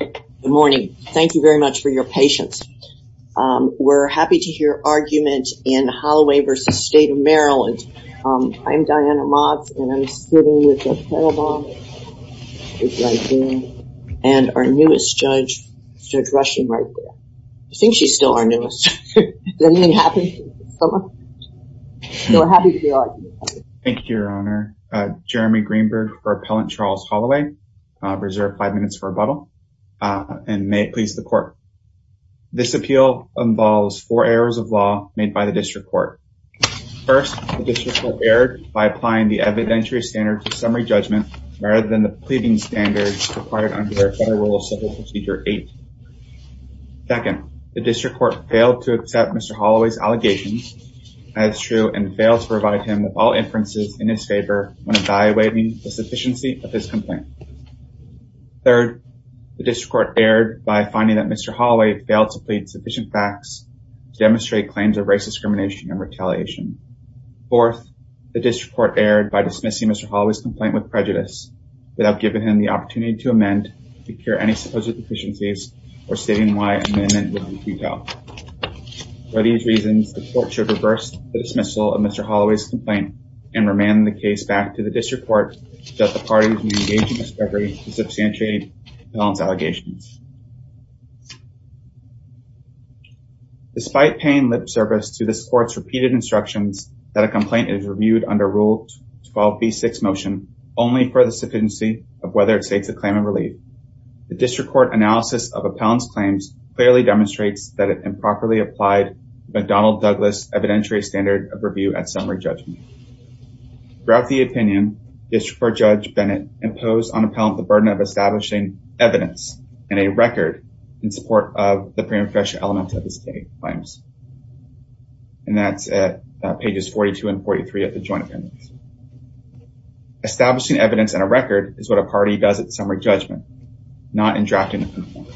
Good morning. Thank you very much for your patience. We're happy to hear argument in Holloway v. State of Maryland. I'm Diana Mott and I'm sitting with our newest judge, Judge Rushing, right there. I think she's still our newest. Thank you, Your Honor. Jeremy Greenberg for Appellant Charles Holloway. Reserve five minutes for rebuttal and may it please the court. This appeal involves four errors of law made by the district court. First, the district court erred by applying the evidentiary standard to summary judgment rather than the pleading standard required under Federal Civil Procedure 8. Second, the district court failed to accept Mr. Holloway's allegations as true and failed to provide him with all inferences in his favor when evaluating the sufficiency of his complaint. Third, the district court erred by finding that Mr. Holloway failed to plead sufficient facts to demonstrate claims of race discrimination and retaliation. Fourth, the district court erred by dismissing Mr. Holloway's complaint with prejudice without giving him the opportunity to amend, procure any supposed deficiencies, or stating why an amendment would be vetoed. For these reasons, the court should reverse the dismissal of Mr. Holloway's complaint and remand the case back to the district court so that the parties may engage in discrepancy to substantiate the appellant's allegations. Despite paying lip service to this court's repeated instructions that a complaint is reviewed under Rule 12b6 motion only for the sufficiency of whether it states a claim of relief, the district court analysis of appellant's claims clearly demonstrates that it improperly applied McDonnell Douglas evidentiary standard of review at summary judgment. Throughout the opinion, district court judge Bennett imposed on appellant the burden of establishing evidence and a record in support of the pre-refresher element of his state claims. And that's at pages 42 and 43 of the joint opinions. Establishing evidence and a record is what a party does at summary judgment, not in drafting a complaint.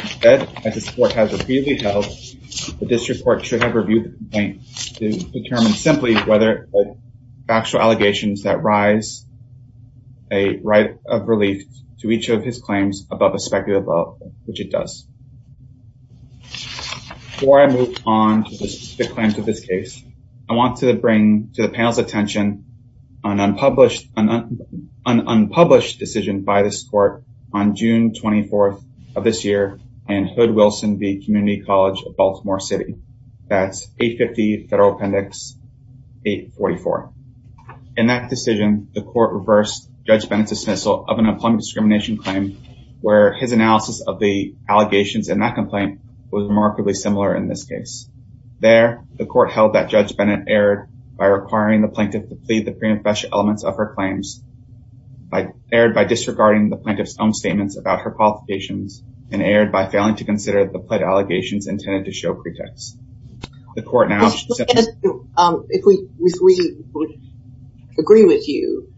Instead, as this court has repeatedly held, the district court should have reviewed the complaint to determine simply whether it holds factual allegations that rise a right of relief to each of his claims above a speculative vote, which it does. Before I move on to the claims of this case, I want to bring to the panel's attention an unpublished decision by this court on June 24th of this year in Hood-Wilson v. Community College of Baltimore City. That's 850 Federal Appendix 844. In that decision, the court reversed Judge Bennett's dismissal of an unplugged discrimination claim, where his analysis of the allegations in that complaint was remarkably similar in this case. There, the court held that Judge Bennett erred by requiring the plaintiff to plead the pre-refresher elements of her claims, erred by disregarding the plaintiff's own statements about her qualifications, and erred by failing to consider the pled allegations intended to show pretext. If we agree with you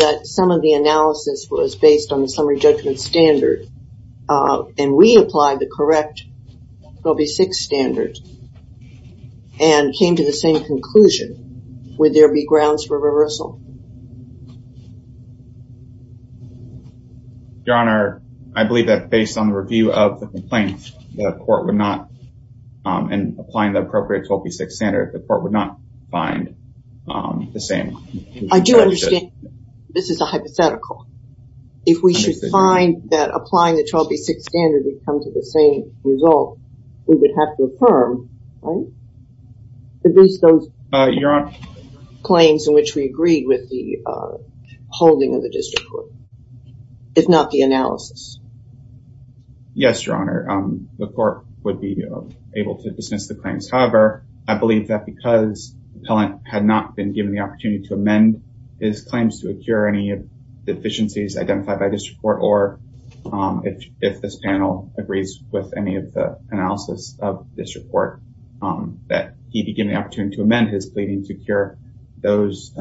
that some of the analysis was based on the summary judgment standard, and we applied the correct AB6 standard and came to the same conclusion, would there be grounds for reversal? Your Honor, I believe that based on the review of the complaint, the court would not, and applying the appropriate 12B6 standard, the court would not find the same. I do understand. This is a hypothetical. If we should find that applying the 12B6 standard would come to the same result, we would have to affirm, right? Your Honor. Claims in which we agreed with the holding of the district court, if not the analysis. Yes, Your Honor. The court would be able to dismiss the claims. However, I believe that because the appellant had not been given the opportunity to amend his claims to occur, any deficiencies identified by this report, or if this panel agrees with any of the analysis of this report, that he'd be given the opportunity to amend his pleading to cure those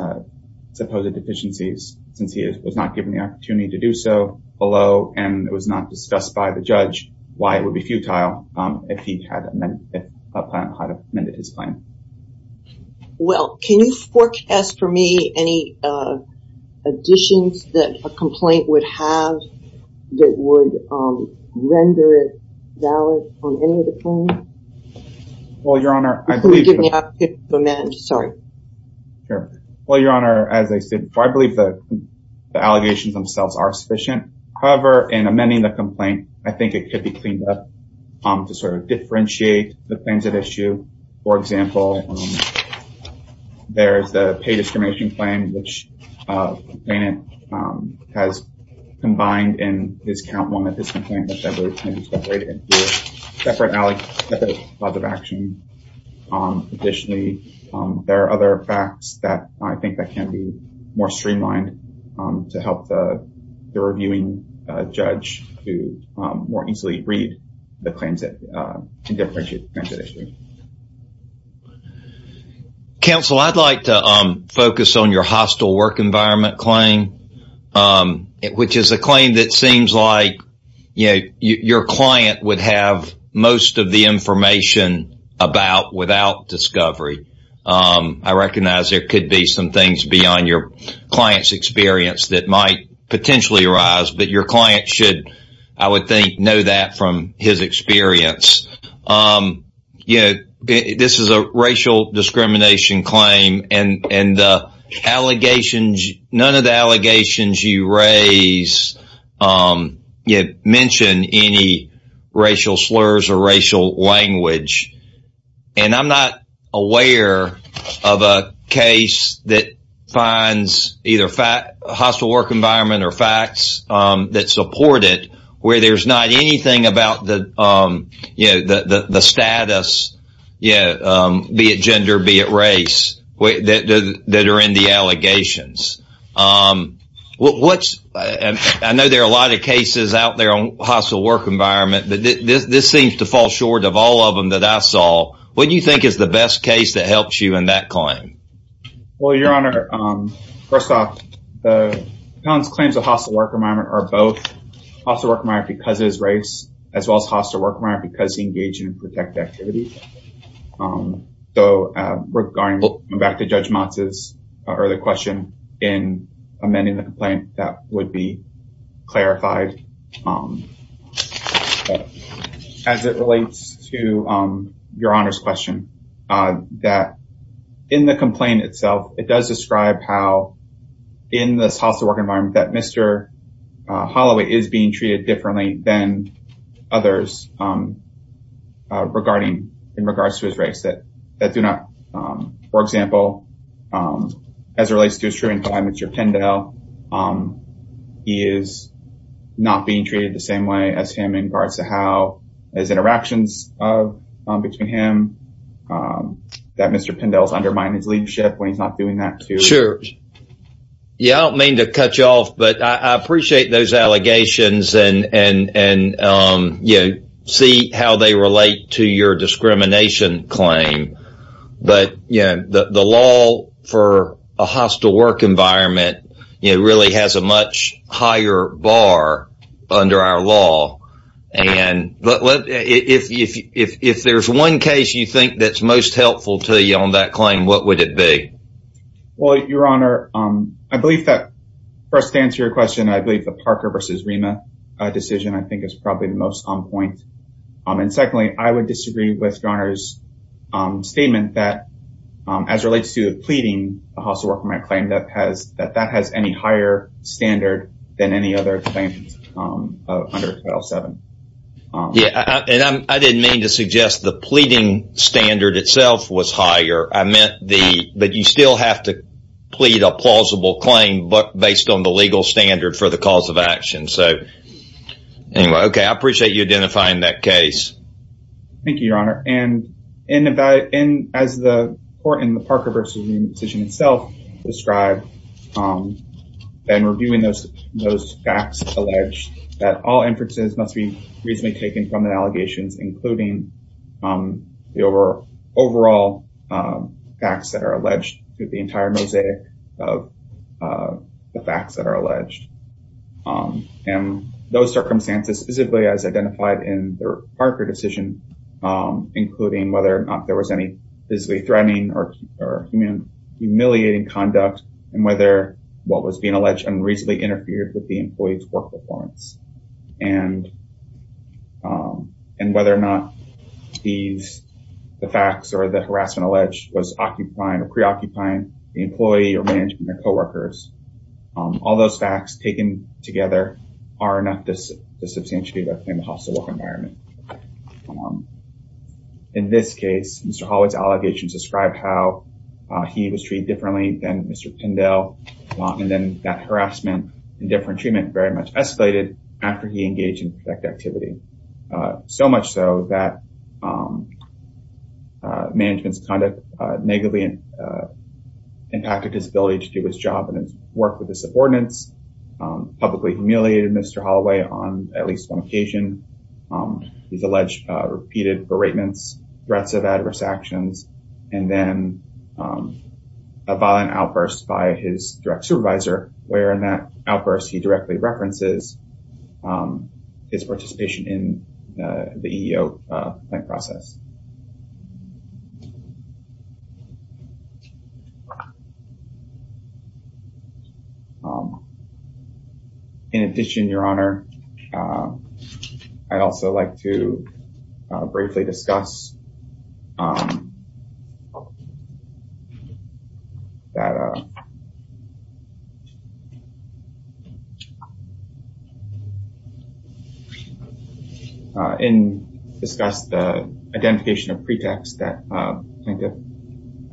supposed deficiencies, since he was not given the opportunity to do so below, and it was not discussed by the judge why it would be futile if he had amended his claim. Well, can you forecast for me any additions that a complaint would have that would render it valid on any of the claims? Well, Your Honor, I believe... Could you give me an opportunity to amend? Sorry. Sure. Well, Your Honor, as I said before, I believe the allegations themselves are sufficient. However, in amending the complaint, I think it could be cleaned up to sort of differentiate the things at issue. For example, there's the pay discrimination claim, which the plaintiff has combined in his count one of his complaint, which I believe can be separated into a separate method of action. Additionally, there are other facts that I think that can be more streamlined to help the reviewing judge to more easily read the claims that differentiate the claims at issue. Counsel, I'd like to focus on your hostile work environment claim, which is a claim that seems like your client would have most of the information about without discovery. I recognize there could be some things beyond your client's experience that might potentially arise, but your client should, I would think, know that from his experience. This is a racial discrimination claim, and none of the allegations you raise mention any racial slurs or racial language. And I'm not aware of a case that finds either hostile work environment or facts that support it, where there's not anything about the status, be it gender, be it race, that are in the allegations. I know there are a lot of cases out there on hostile work environment, but this seems to fall short of all of them that I saw. What do you think is the best case that helps you in that claim? Well, Your Honor, first off, the client's claims of hostile work environment are both hostile work environment because of his race, as well as hostile work environment because he engaged in protective activities. So, going back to Judge Motz's earlier question in amending the complaint, that would be clarified. As it relates to Your Honor's question, that in the complaint itself, it does describe how in this hostile work environment, that Mr. Holloway is being treated differently than others regarding, in regards to his race. That do not, for example, as it relates to his treatment of Mr. Pindell, he is not being treated the same way as him in regards to how his interactions between him, that Mr. Pindell is undermining his leadership when he's not doing that. Yeah, I don't mean to cut you off, but I appreciate those allegations and see how they relate to your discrimination claim. But the law for a hostile work environment really has a much higher bar under our law. If there's one case you think that's most helpful to you on that claim, what would it be? Well, Your Honor, I believe that first to answer your question, I believe the Parker versus Rema decision I think is probably the most on point. And secondly, I would disagree with Your Honor's statement that as it relates to pleading, a hostile work environment claim that has any higher standard than any other claim under Title VII. Yeah, and I didn't mean to suggest the pleading standard itself was higher. I meant that you still have to plead a plausible claim based on the legal standard for the cause of action. So anyway, OK, I appreciate you identifying that case. Thank you, Your Honor. And as the court in the Parker versus Rema decision itself described, and reviewing those facts allege that all inferences must be reasonably taken from the allegations, including the overall facts that are alleged through the entire mosaic of the facts that are alleged. And those circumstances specifically as identified in the Parker decision, including whether or not there was any physically threatening or humiliating conduct, and whether what was being alleged unreasonably interfered with the employee's work performance. And whether or not the facts or the harassment alleged was occupying or preoccupying the employee or managing their co-workers. All those facts taken together are enough to substantiate the hostile work environment. In this case, Mr. Hollywood's allegations describe how he was treated differently than Mr. Pindell. And then that harassment and different treatment very much escalated after he engaged in protective activity. So much so that management's conduct negatively impacted his ability to do his job and work with his subordinates, publicly humiliated Mr. Holloway on at least one occasion. He's alleged repeated beratements, threats of adverse actions, and then a violent outburst by his direct supervisor, where in that outburst, he directly references his participation in the EEO process. In addition, Your Honor, I'd also like to briefly discuss. And discuss the identification of pretext that plaintiff,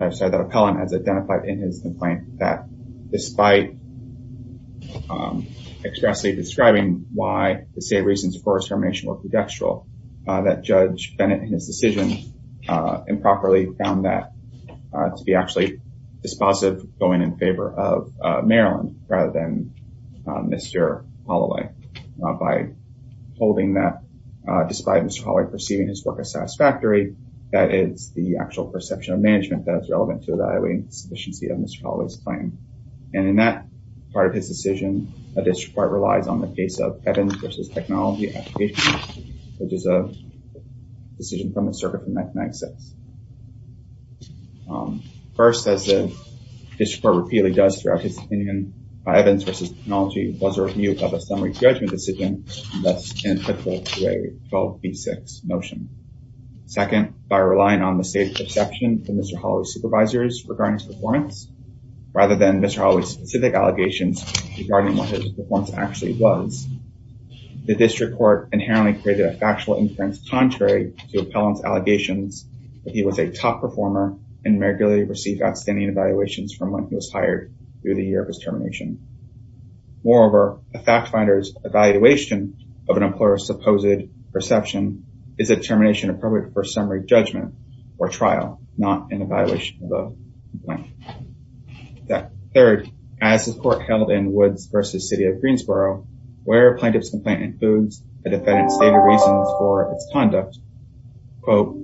I'm sorry, that appellant has identified in his complaint that despite expressly describing why the state reasons for his termination were pretextual, that Judge Bennett, in his decision, improperly found that to be actually dispositive going in favor of Maryland rather than Mr. Holloway. By holding that despite Mr. Holloway perceiving his work as satisfactory, that is the actual perception of management that is relevant to evaluating sufficiency of Mr. Holloway's claim. And in that part of his decision, a district court relies on the case of Evans v. Technology application, which is a decision from the Circuit for Mechanical Access. First, as the district court repeatedly does throughout his opinion, by Evans v. Technology, was a review of a summary judgment decision that's inapplicable to a 12B6 motion. Second, by relying on the state's perception from Mr. Holloway's supervisors regarding his performance, rather than Mr. Holloway's specific allegations regarding what his performance actually was, the district court inherently created a factual inference contrary to appellant's allegations that he was a top performer and regularly received outstanding evaluations from when he was hired through the year of his termination. Moreover, a fact finder's evaluation of an employer's supposed perception is a termination appropriate for a summary judgment or trial, not an evaluation of a complaint. Third, as the court held in Woods v. City of Greensboro, where a plaintiff's complaint includes a defendant's stated reasons for its conduct, quote,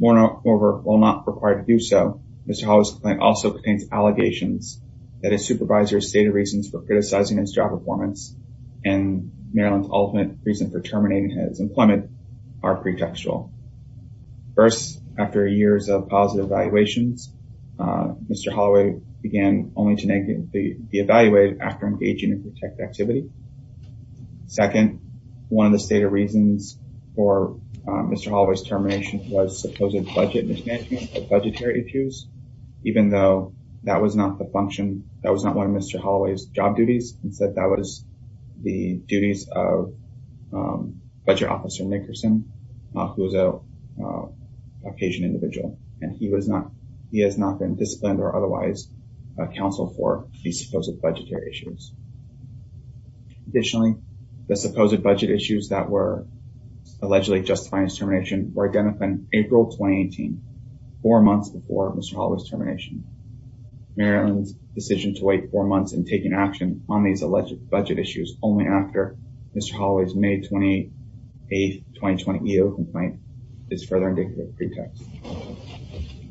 Moreover, while not required to do so, Mr. Holloway's complaint also contains allegations that his supervisor's stated reasons for criticizing his job performance and Maryland's ultimate reason for terminating his employment are pretextual. First, after years of positive evaluations, Mr. Holloway began only to be evaluated after engaging in protective activity. Second, one of the stated reasons for Mr. Holloway's termination was supposed budget mismanagement of budgetary issues, even though that was not one of Mr. Holloway's job duties, instead that was the duties of budget officer Nickerson, who is a Cajun individual, and he has not been disciplined or otherwise counseled for these supposed budgetary issues. Additionally, the supposed budget issues that were allegedly justified his termination were identified in April 2018, four months before Mr. Holloway's termination. Maryland's decision to wait four months and taking action on these alleged budget issues only after Mr. Holloway's May 28, 2020 EO complaint is further indicative of pretext.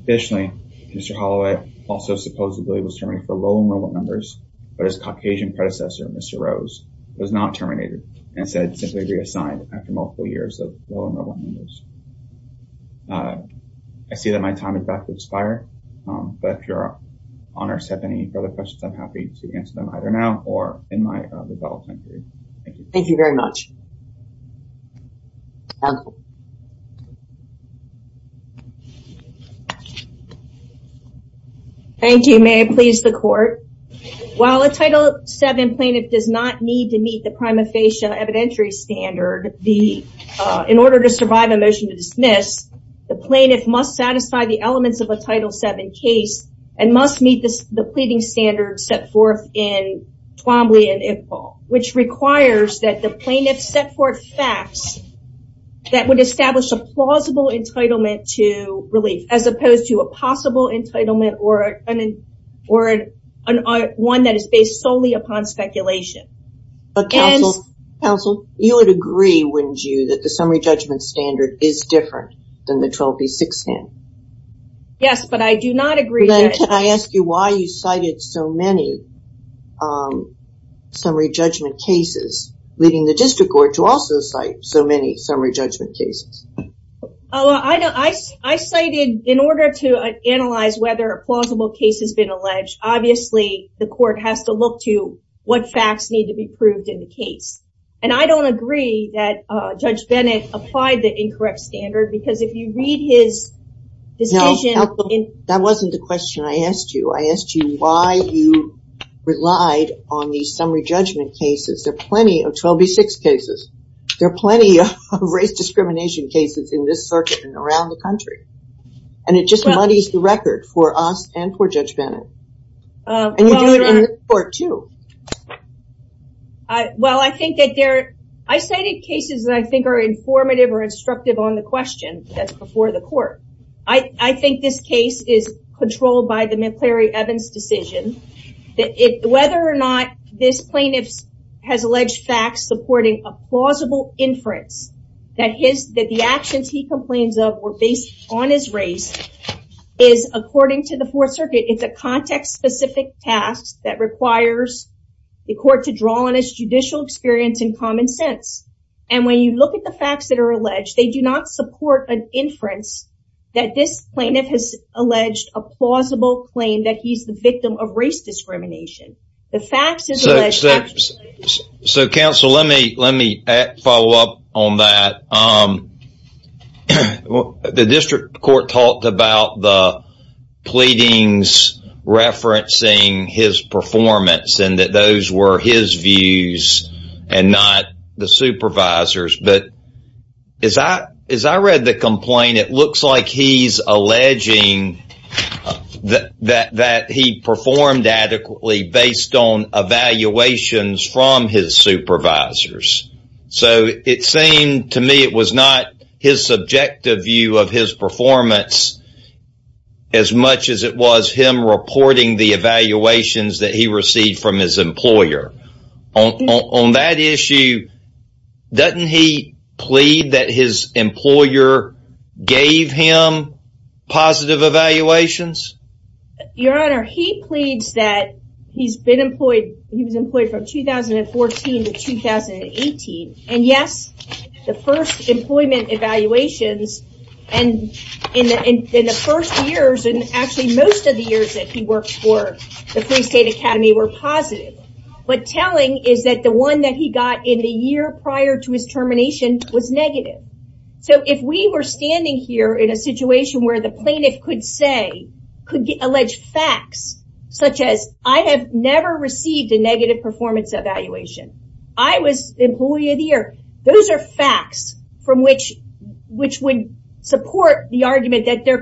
Additionally, Mr. Holloway also supposedly was terminated for low enrollment numbers, but his Caucasian predecessor, Mr. Rose, was not terminated and said simply reassigned after multiple years of low enrollment numbers. I see that my time is about to expire, but if your honors have any further questions, I'm happy to answer them either now or in my development period. Thank you. Thank you very much. Thank you. May it please the court. While a Title VII plaintiff does not need to meet the prima facie evidentiary standard in order to survive a motion to dismiss, the plaintiff must satisfy the elements of a Title VII case and must meet the pleading standards set forth in Twombly and IPPAL, which requires that the plaintiff set forth facts that would establish a plausible entitlement to relief as opposed to a possible entitlement or one that is based solely upon speculation. Counsel, you would agree, wouldn't you, that the summary judgment standard is different than the 12B6 standard? Yes, but I do not agree. Then can I ask you why you cited so many summary judgment cases, leading the district court to also cite so many summary judgment cases? I cited, in order to analyze whether a plausible case has been alleged, obviously the court has to look to what facts need to be proved in the case. And I don't agree that Judge Bennett applied the incorrect standard because if you read his decision... That wasn't the question I asked you. I asked you why you relied on these summary judgment cases. There are plenty of 12B6 cases. There are plenty of race discrimination cases in this circuit and around the country. And it just muddies the record for us and for Judge Bennett. And you do it in this court, too. Well, I think that there... I cited cases that I think are informative or instructive on the question that's before the court. I think this case is controlled by the McCleary-Evans decision. Whether or not this plaintiff has alleged facts supporting a plausible inference, that the actions he complains of were based on his race, is according to the Fourth Circuit. It's a context-specific task that requires the court to draw on its judicial experience and common sense. And when you look at the facts that are alleged, they do not support an inference that this plaintiff has alleged a plausible claim that he's the victim of race discrimination. The facts is alleged... So, counsel, let me follow up on that. The district court talked about the pleadings referencing his performance and that those were his views and not the supervisor's. But as I read the complaint, it looks like he's alleging that he performed adequately based on evaluations from his supervisors. So, it seemed to me it was not his subjective view of his performance as much as it was him reporting the evaluations that he received from his employer. On that issue, doesn't he plead that his employer gave him positive evaluations? Your Honor, he pleads that he was employed from 2014 to 2018. And yes, the first employment evaluations in the first years and actually most of the years that he worked for the Free State Academy were positive. But telling is that the one that he got in the year prior to his termination was negative. So, if we were standing here in a situation where the plaintiff could say, could allege facts such as, I have never received a negative performance evaluation. I was the employee of the year. Those are facts from which would support the argument that there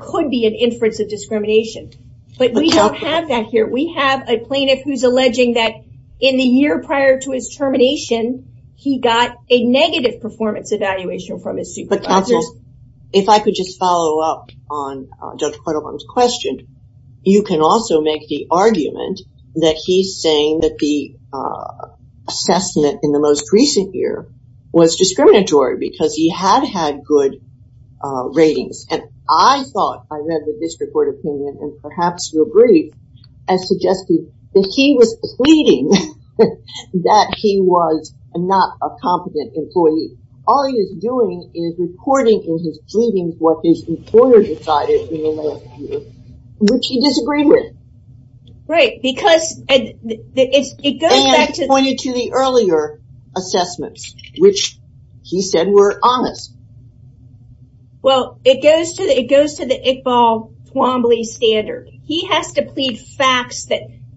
could be an inference of discrimination. But we don't have that here. We have a plaintiff who's alleging that in the year prior to his termination, he got a negative performance evaluation from his supervisors. But counsel, if I could just follow up on Judge Quattlebaum's question. You can also make the argument that he's saying that the assessment in the most recent year was discriminatory because he had had good ratings. And I thought, I read the district court opinion, and perhaps you agree, as suggested, that he was pleading that he was not a competent employee. All he is doing is reporting in his pleadings what his employer decided in the last year, which he disagreed with. Right, because it goes back to... And pointed to the earlier assessments, which he said were honest. Well, it goes to the Iqbal Twombly standard. He has to plead facts.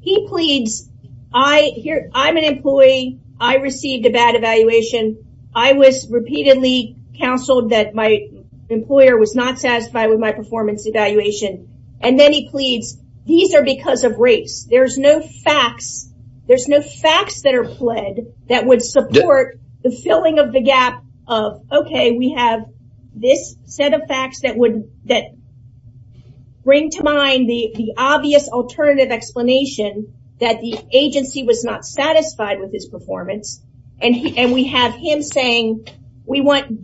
He pleads, I'm an employee. I received a bad evaluation. I was repeatedly counseled that my employer was not satisfied with my performance evaluation. And then he pleads, these are because of race. There's no facts that are pled that would support the filling of the gap of, okay, we have this set of facts that bring to mind the obvious alternative explanation that the agency was not satisfied with his performance. And we have him saying,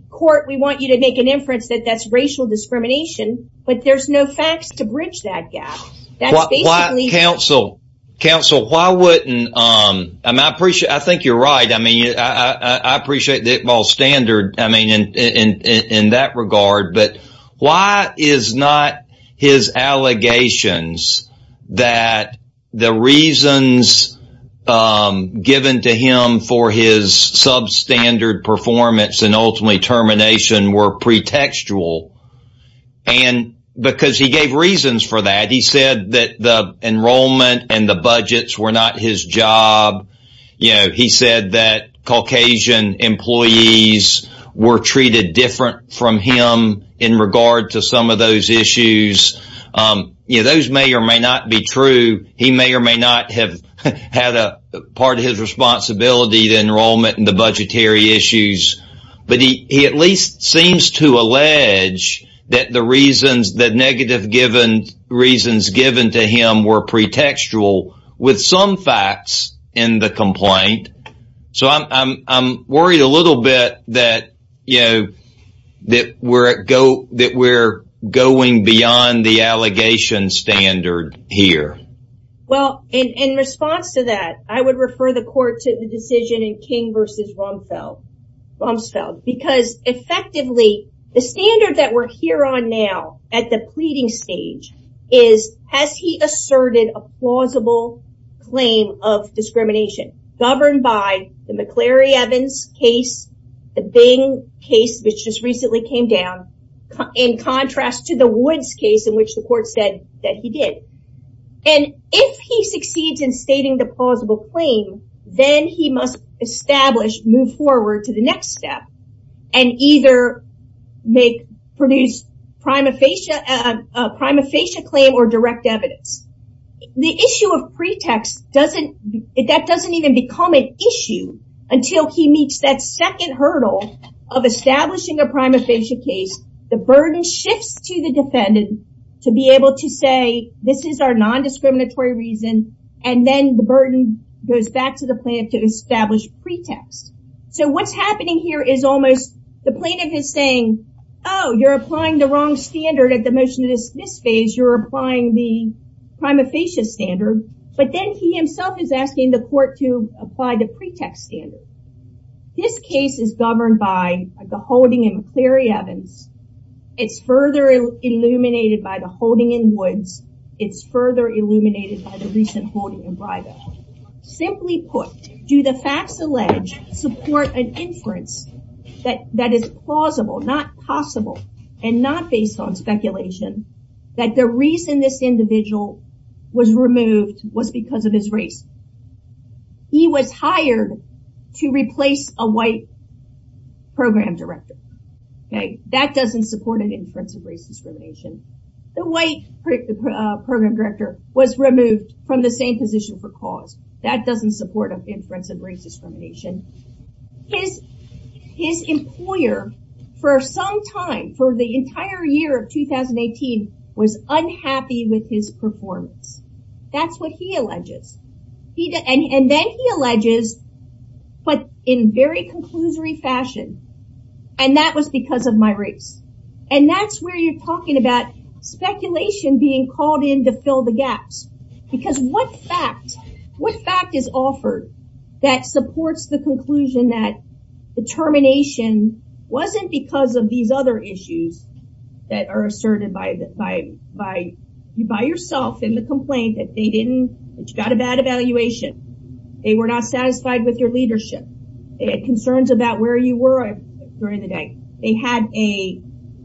court, we want you to make an inference that that's racial discrimination. But there's no facts to bridge that gap. Counsel, why wouldn't... I think you're right. I appreciate the Iqbal standard in that regard. But why is not his allegations that the reasons given to him for his substandard performance and ultimately termination were pretextual? And because he gave reasons for that. He said that the enrollment and the budgets were not his job. You know, he said that Caucasian employees were treated different from him in regard to some of those issues. You know, those may or may not be true. He may or may not have had a part of his responsibility, the enrollment and the budgetary issues. But he at least seems to allege that the reasons, the negative reasons given to him were pretextual with some facts in the complaint. So I'm worried a little bit that, you know, that we're going beyond the allegation standard here. Well, in response to that, I would refer the court to the decision in King versus Rumsfeld. Because effectively, the standard that we're here on now at the pleading stage is, has he asserted a plausible claim of discrimination governed by the McClary-Evans case, the Bing case, which just recently came down, in contrast to the Woods case in which the court said that he did. And if he succeeds in stating the plausible claim, then he must establish, move forward to the next step, and either produce a prima facie claim or direct evidence. The issue of pretext doesn't, that doesn't even become an issue until he meets that second hurdle of establishing a prima facie case. The burden shifts to the defendant to be able to say, this is our non-discriminatory reason. And then the burden goes back to the plaintiff to establish pretext. So what's happening here is almost the plaintiff is saying, oh, you're applying the wrong standard at the motion of this phase. You're applying the prima facie standard. But then he himself is asking the court to apply the pretext standard. This case is governed by the holding in McClary-Evans. It's further illuminated by the holding in Woods. It's further illuminated by the recent holding in Breivik. Simply put, do the facts alleged support an inference that is plausible, not possible, and not based on speculation, that the reason this individual was removed was because of his race? He was hired to replace a white program director. That doesn't support an inference of race discrimination. The white program director was removed from the same position for cause. That doesn't support an inference of race discrimination. His employer for some time, for the entire year of 2018, was unhappy with his performance. That's what he alleges. And then he alleges, but in very conclusory fashion, and that was because of my race. And that's where you're talking about speculation being called in to fill the gaps. Because what fact, what fact is offered that supports the conclusion that the termination wasn't because of these other issues that are asserted by yourself in the complaint, that they didn't, that you got a bad evaluation, they were not satisfied with your leadership, they had concerns about where you were during the day, they had a,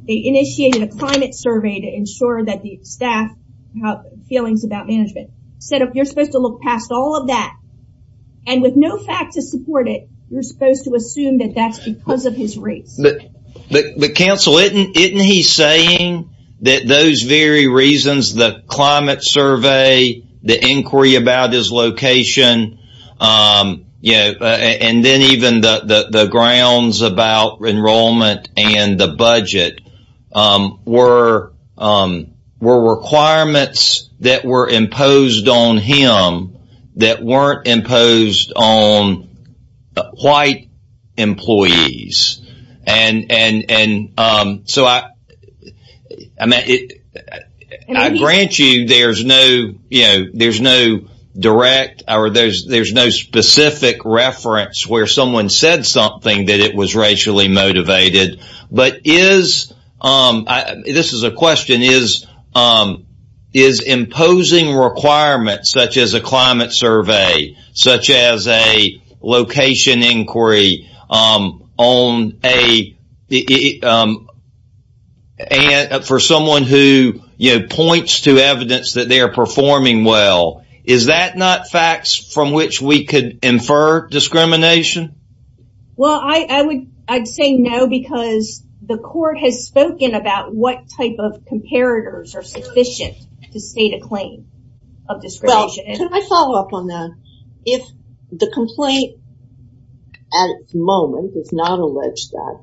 they initiated a climate survey to ensure that the staff have feelings about management. Instead of, you're supposed to look past all of that, and with no fact to support it, you're supposed to assume that that's because of his race. But counsel, isn't he saying that those very reasons, the climate survey, the inquiry about his location, and then even the grounds about enrollment and the budget were requirements that were imposed on him that weren't imposed on white employees. And so I grant you there's no direct or there's no specific reference where someone said something that it was racially motivated. But is, this is a question, is imposing requirements such as a climate survey, such as a location inquiry on a, for someone who points to evidence that they are performing well, is that not facts from which we could infer discrimination? Well, I would say no because the court has spoken about what type of comparators are sufficient to state a claim of discrimination. Can I follow up on that? If the complaint at the moment does not allege that,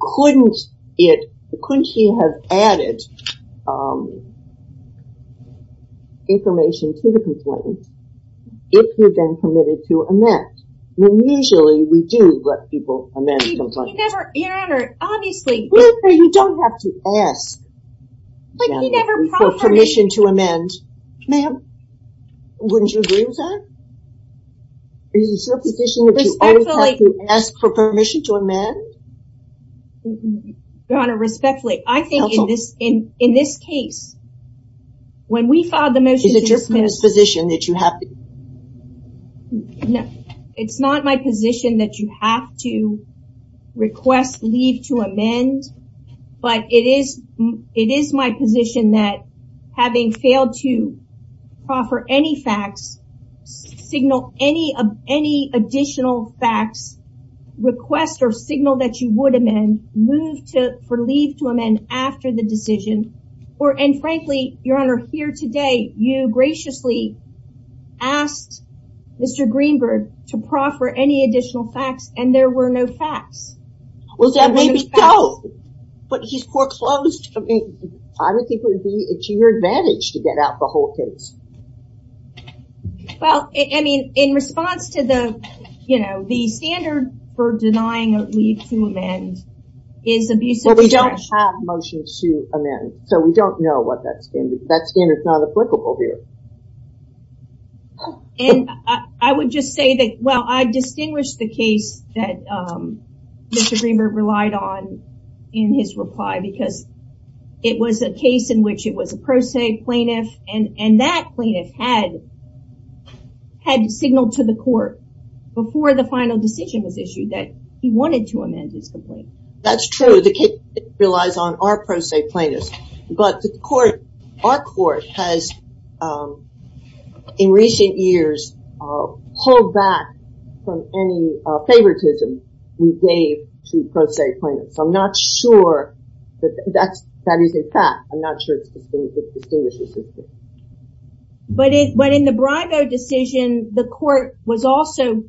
couldn't it, couldn't he have added information to the complaint if he'd been committed to amend? When usually we do let people amend complaints. He never, Your Honor, obviously. You don't have to ask for permission to amend. Ma'am, wouldn't you agree with that? Is it your position that you always have to ask for permission to amend? Your Honor, respectfully, I think in this case, when we filed the motion, Is it your position that you have to? It is my position that you have to request leave to amend. But it is, it is my position that having failed to offer any facts, signal any of any additional facts, request or signal that you would amend, move to for leave to amend after the decision or, and frankly, Your Honor, here today, you graciously asked Mr. Greenberg to proffer any additional facts and there were no facts. Well, that may be so, but he's foreclosed. I don't think it would be to your advantage to get out the whole case. Well, I mean, in response to the, you know, the standard for denying leave to amend is abusive. But we don't have motions to amend, so we don't know what that standard is. That standard is not applicable here. And I would just say that, well, I distinguish the case that Mr. Greenberg relied on in his reply because it was a case in which it was a pro se plaintiff and that plaintiff had, had signaled to the court before the final decision was issued that he wanted to amend his complaint. That's true. The case relies on our pro se plaintiffs. But the court, our court has in recent years pulled back from any favoritism we gave to pro se plaintiffs. I'm not sure that that is a fact. I'm not sure it distinguishes. But in the Bribo decision, the court was also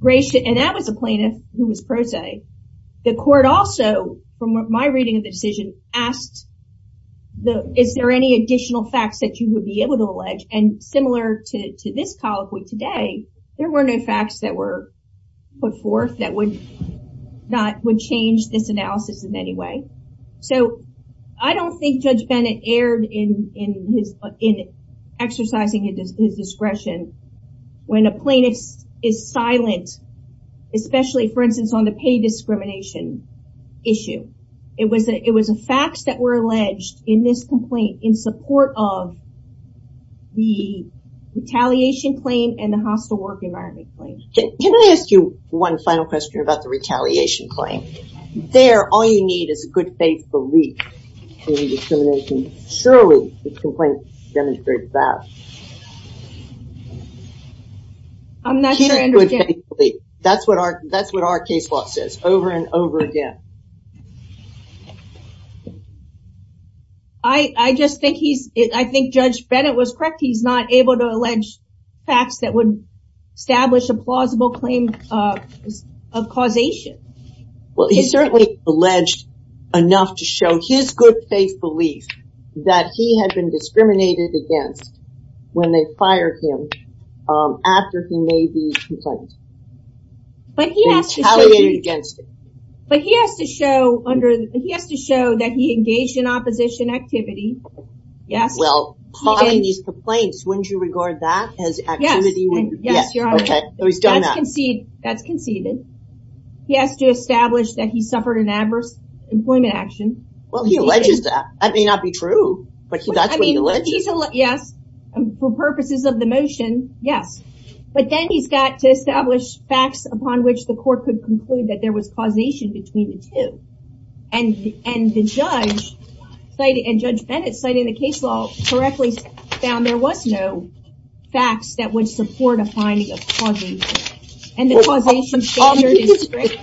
gracious. And that was a plaintiff who was pro se. The court also, from my reading of the decision, asked, is there any additional facts that you would be able to allege? And similar to this colloquy today, there were no facts that were put forth that would not, would change this analysis in any way. So I don't think Judge Bennett erred in exercising his discretion when a plaintiff is silent, especially, for instance, on the pay discrimination issue. It was a fact that were alleged in this complaint in support of the retaliation claim and the hostile work environment claim. Can I ask you one final question about the retaliation claim? There, all you need is a good faith belief in discrimination. Surely this complaint demonstrates that. I'm not sure I understand. That's what our, that's what our case law says over and over again. I just think he's, I think Judge Bennett was correct. He's not able to allege facts that would establish a plausible claim of causation. Well, he certainly alleged enough to show his good faith belief that he had been discriminated against when they fired him after he made the complaint. Retaliated against him. But he has to show under, he has to show that he engaged in opposition activity. Yes. Well, calling these complaints, wouldn't you regard that as activity? Yes, Your Honor. Okay, so he's done that. That's conceded. He has to establish that he suffered an adverse employment action. Well, he alleges that. That may not be true, but that's what he alleges. Yes, for purposes of the motion, yes. But then he's got to establish facts upon which the court could conclude that there was causation between the two. And Judge Bennett, citing the case law correctly, found there was no facts that would support a finding of causation. And the causation standard is strict.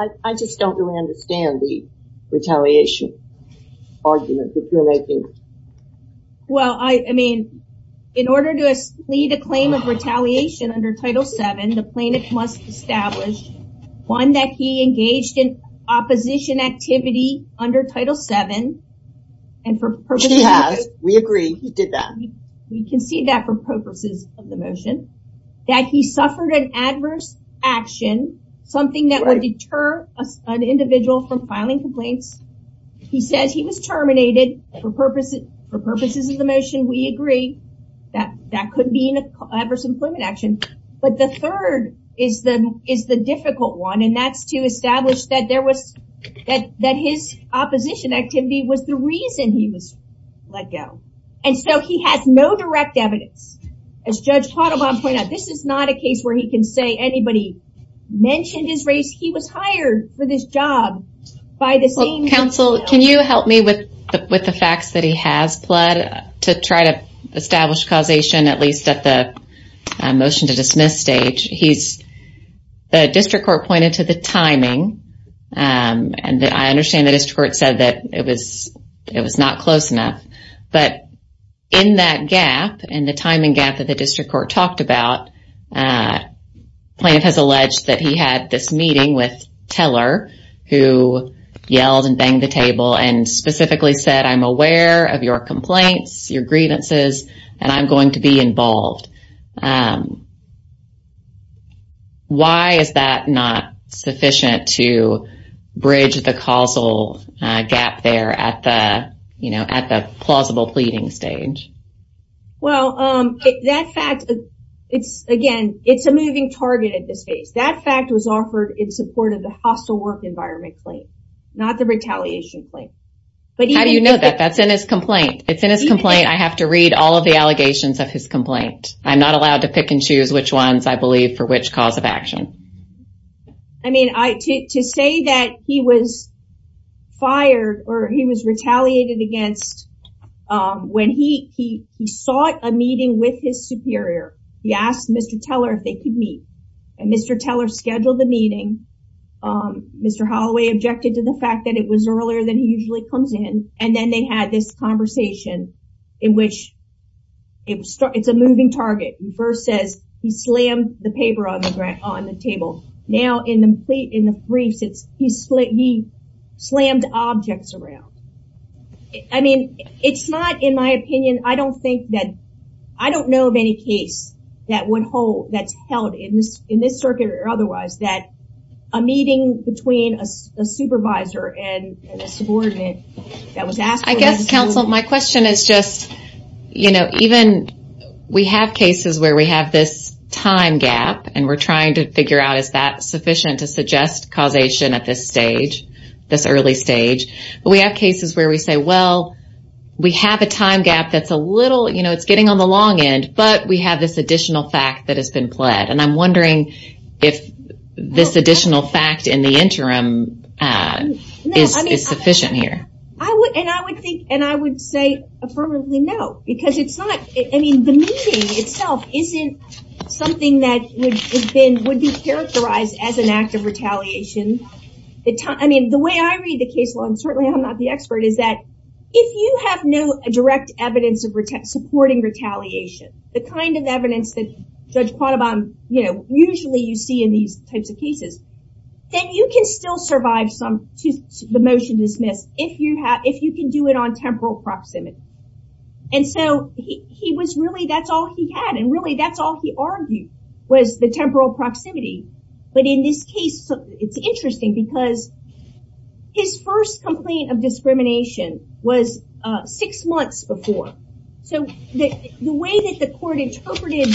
I just don't really understand the retaliation argument that you're making. Well, I mean, in order to lead a claim of retaliation under Title VII, the plaintiff must establish one that he engaged in opposition activity under Title VII. She has. We agree. He did that. We concede that for purposes of the motion. That he suffered an adverse action, something that would deter an individual from filing complaints. He says he was terminated for purposes of the motion. We agree that that could be an adverse employment action. But the third is the difficult one, and that's to establish that his opposition activity was the reason he was let go. And so he has no direct evidence. As Judge Quattlebaum pointed out, this is not a case where he can say anybody mentioned his race. He was hired for this job by the same counsel. Can you help me with the facts that he has pled to try to establish causation, at least at the motion to dismiss stage? The district court pointed to the timing, and I understand the district court said that it was not close enough. But in that gap, in the timing gap that the district court talked about, plaintiff has alleged that he had this meeting with Teller, who yelled and banged the table and specifically said, I'm aware of your complaints, your grievances, and I'm going to be involved. Why is that not sufficient to bridge the causal gap there at the plausible pleading stage? Well, that fact, again, it's a moving target at this stage. That fact was offered in support of the hostile work environment claim, not the retaliation claim. How do you know that? That's in his complaint. It's in his complaint. I have to read all of the allegations of his complaint. I'm not allowed to pick and choose which ones I believe for which cause of action. I mean, to say that he was fired or he was retaliated against when he sought a meeting with his superior. He asked Mr. Teller if they could meet. And Mr. Teller scheduled the meeting. Mr. Holloway objected to the fact that it was earlier than he usually comes in. And then they had this conversation in which it's a moving target. He first says he slammed the paper on the table. Now, in the briefs, he slammed objects around. I mean, it's not in my opinion. I don't think that I don't know of any case that would hold that's held in this circuit or otherwise, that a meeting between a supervisor and a subordinate that was asked. I guess, counsel, my question is just, you know, even we have cases where we have this time gap and we're trying to figure out is that sufficient to suggest causation at this stage, this early stage. But we have cases where we say, well, we have a time gap that's a little, you know, it's getting on the long end. But we have this additional fact that has been pled. And I'm wondering if this additional fact in the interim is sufficient here. And I would think and I would say affirmatively no. Because it's not, I mean, the meeting itself isn't something that would be characterized as an act of retaliation. I mean, the way I read the case law, and certainly I'm not the expert, is that if you have no direct evidence of supporting retaliation, the kind of evidence that Judge Quattobam, you know, usually you see in these types of cases, then you can still survive the motion dismissed if you can do it on temporal proximity. And so he was really, that's all he had. And really, that's all he argued was the temporal proximity. But in this case, it's interesting because his first complaint of discrimination was six months before. So the way that the court interpreted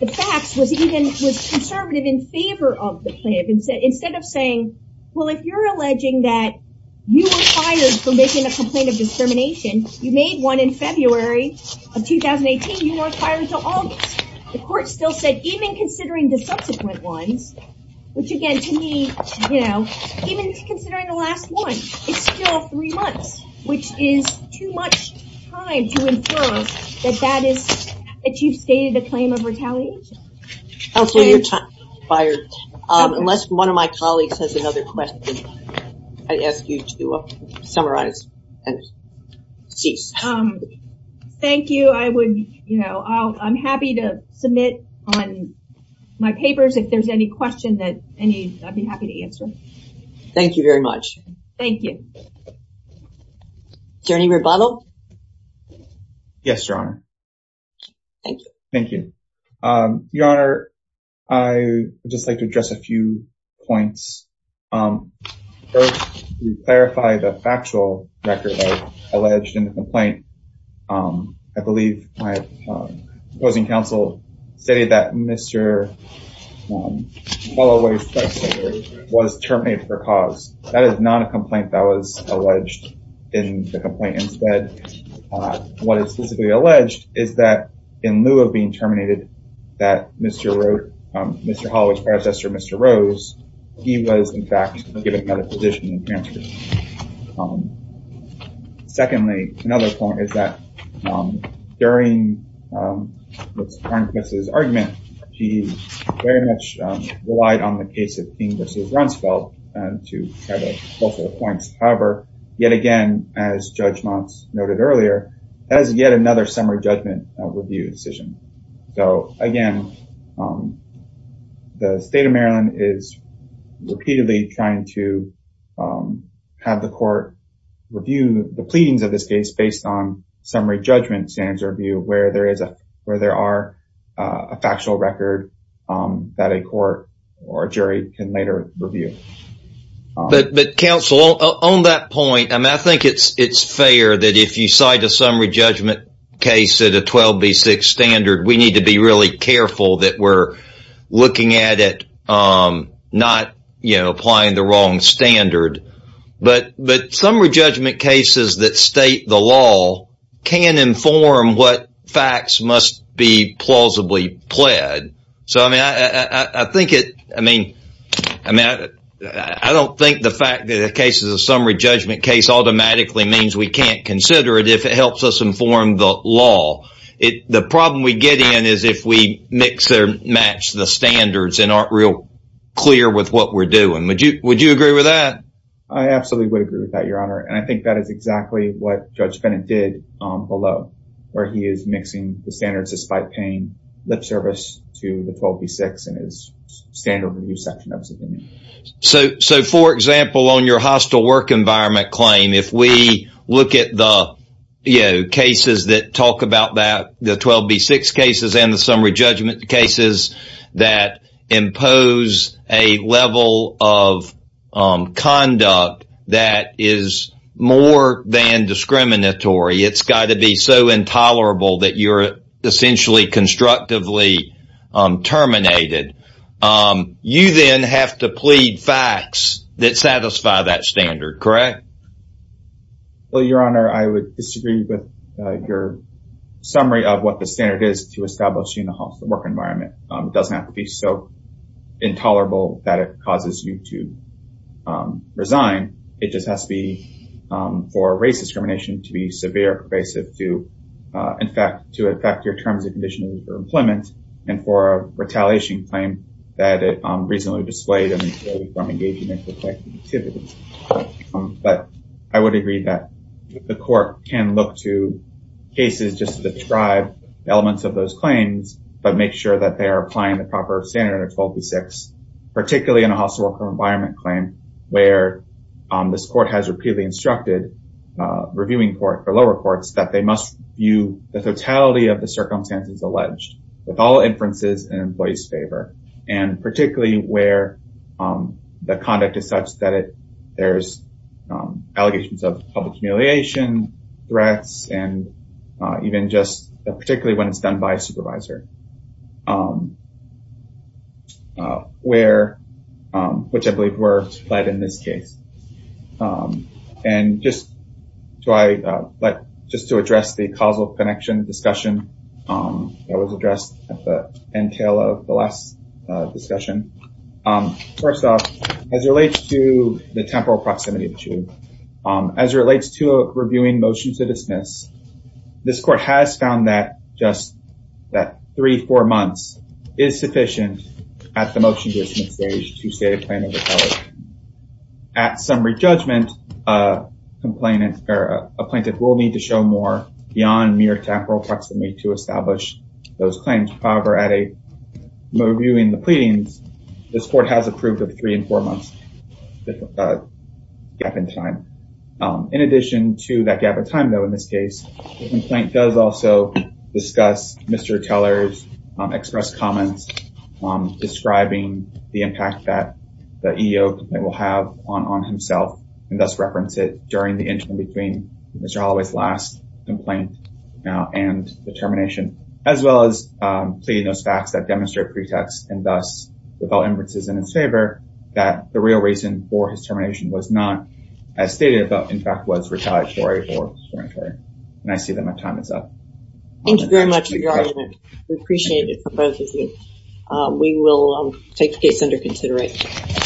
the facts was even conservative in favor of the plan. Instead of saying, well, if you're alleging that you were fired for making a complaint of discrimination, you made one in February of 2018, you were fired until August. The court still said, even considering the subsequent ones, which again, to me, you know, even considering the last one, it's still three months, which is too much time to infer that that is, that you've stated a claim of retaliation. Oh, so you're fired. Unless one of my colleagues has another question, I ask you to summarize and cease. Thank you. I would, you know, I'm happy to submit on my papers if there's any question that I'd be happy to answer. Thank you very much. Thank you. Is there any rebuttal? Yes, Your Honor. Thank you. Your Honor, I would just like to address a few points. First, to clarify the factual record of alleged in the complaint. I believe my opposing counsel stated that Mr. Holloway's predecessor was terminated for cause. That is not a complaint that was alleged in the complaint. Instead, what is specifically alleged is that in lieu of being terminated, that Mr. Holloway's predecessor, Mr. Rose, he was, in fact, given another position. Secondly, another point is that during his argument, he very much relied on the case of King v. Rumsfeld to get both of the points. However, yet again, as Judge Monts noted earlier, that is yet another summary judgment review decision. So, again, the state of Maryland is repeatedly trying to have the court review the pleadings of this case based on summary judgment standards review where there are a factual record that a court or jury can later review. Counsel, on that point, I think it is fair that if you cite a summary judgment case at a 12B6 standard, we need to be really careful that we are looking at it not applying the wrong standard. But summary judgment cases that state the law can inform what facts must be plausibly pled. I don't think the fact that a case is a summary judgment case automatically means we can't consider it if it helps us inform the law. The problem we get in is if we mix or match the standards and aren't real clear with what we're doing. Would you agree with that? I absolutely would agree with that, Your Honor. And I think that is exactly what Judge Bennett did below, where he is mixing the standards despite paying lip service to the 12B6 in his standard review section. So, for example, on your hostile work environment claim, if we look at the cases that talk about that, the 12B6 cases and the summary judgment cases that impose a level of conduct that is more than discriminatory. It's got to be so intolerable that you're essentially constructively terminated. You then have to plead facts that satisfy that standard, correct? Well, Your Honor, I would disagree with your summary of what the standard is to establish a hostile work environment. It doesn't have to be so intolerable that it causes you to resign. It just has to be for race discrimination to be severe, pervasive, to, in fact, to affect your terms and conditions for employment, and for a retaliation claim that it reasonably displayed from engagement with collective activities. But I would agree that the court can look to cases just to describe elements of those claims, but make sure that they are applying the proper standard of 12B6, particularly in a hostile work environment claim where this court has repeatedly instructed reviewing court for lower courts that they must view the totality of the circumstances alleged with all inferences in employee's favor, and particularly where the conduct is such that there's allegations of public humiliation, threats, and even just particularly when it's done by a supervisor, which I believe were fled in this case. And just to address the causal connection discussion that was addressed at the entail of the last discussion. First off, as it relates to the temporal proximity issue, as it relates to reviewing motion to dismiss, this court has found that just that three, four months is sufficient at the motion to dismiss stage to say a claim of retaliation. At summary judgment, a plaintiff will need to show more beyond mere temporal proximity to establish those claims. However, at a review in the pleadings, this court has approved of three and four months gap in time. In addition to that gap of time, though, in this case, the complaint does also discuss Mr. Teller's express comments describing the impact that the EEO complaint will have on himself, and thus reference it during the interim between Mr. Holloway's last complaint and the termination, as well as pleading those facts that demonstrate pretext and thus without inferences in his favor that the real reason for his termination was not as stated, but in fact was retaliatory or discriminatory. And I see that my time is up. Thank you very much for your argument. We appreciate it for both of you. We will take the case under consideration.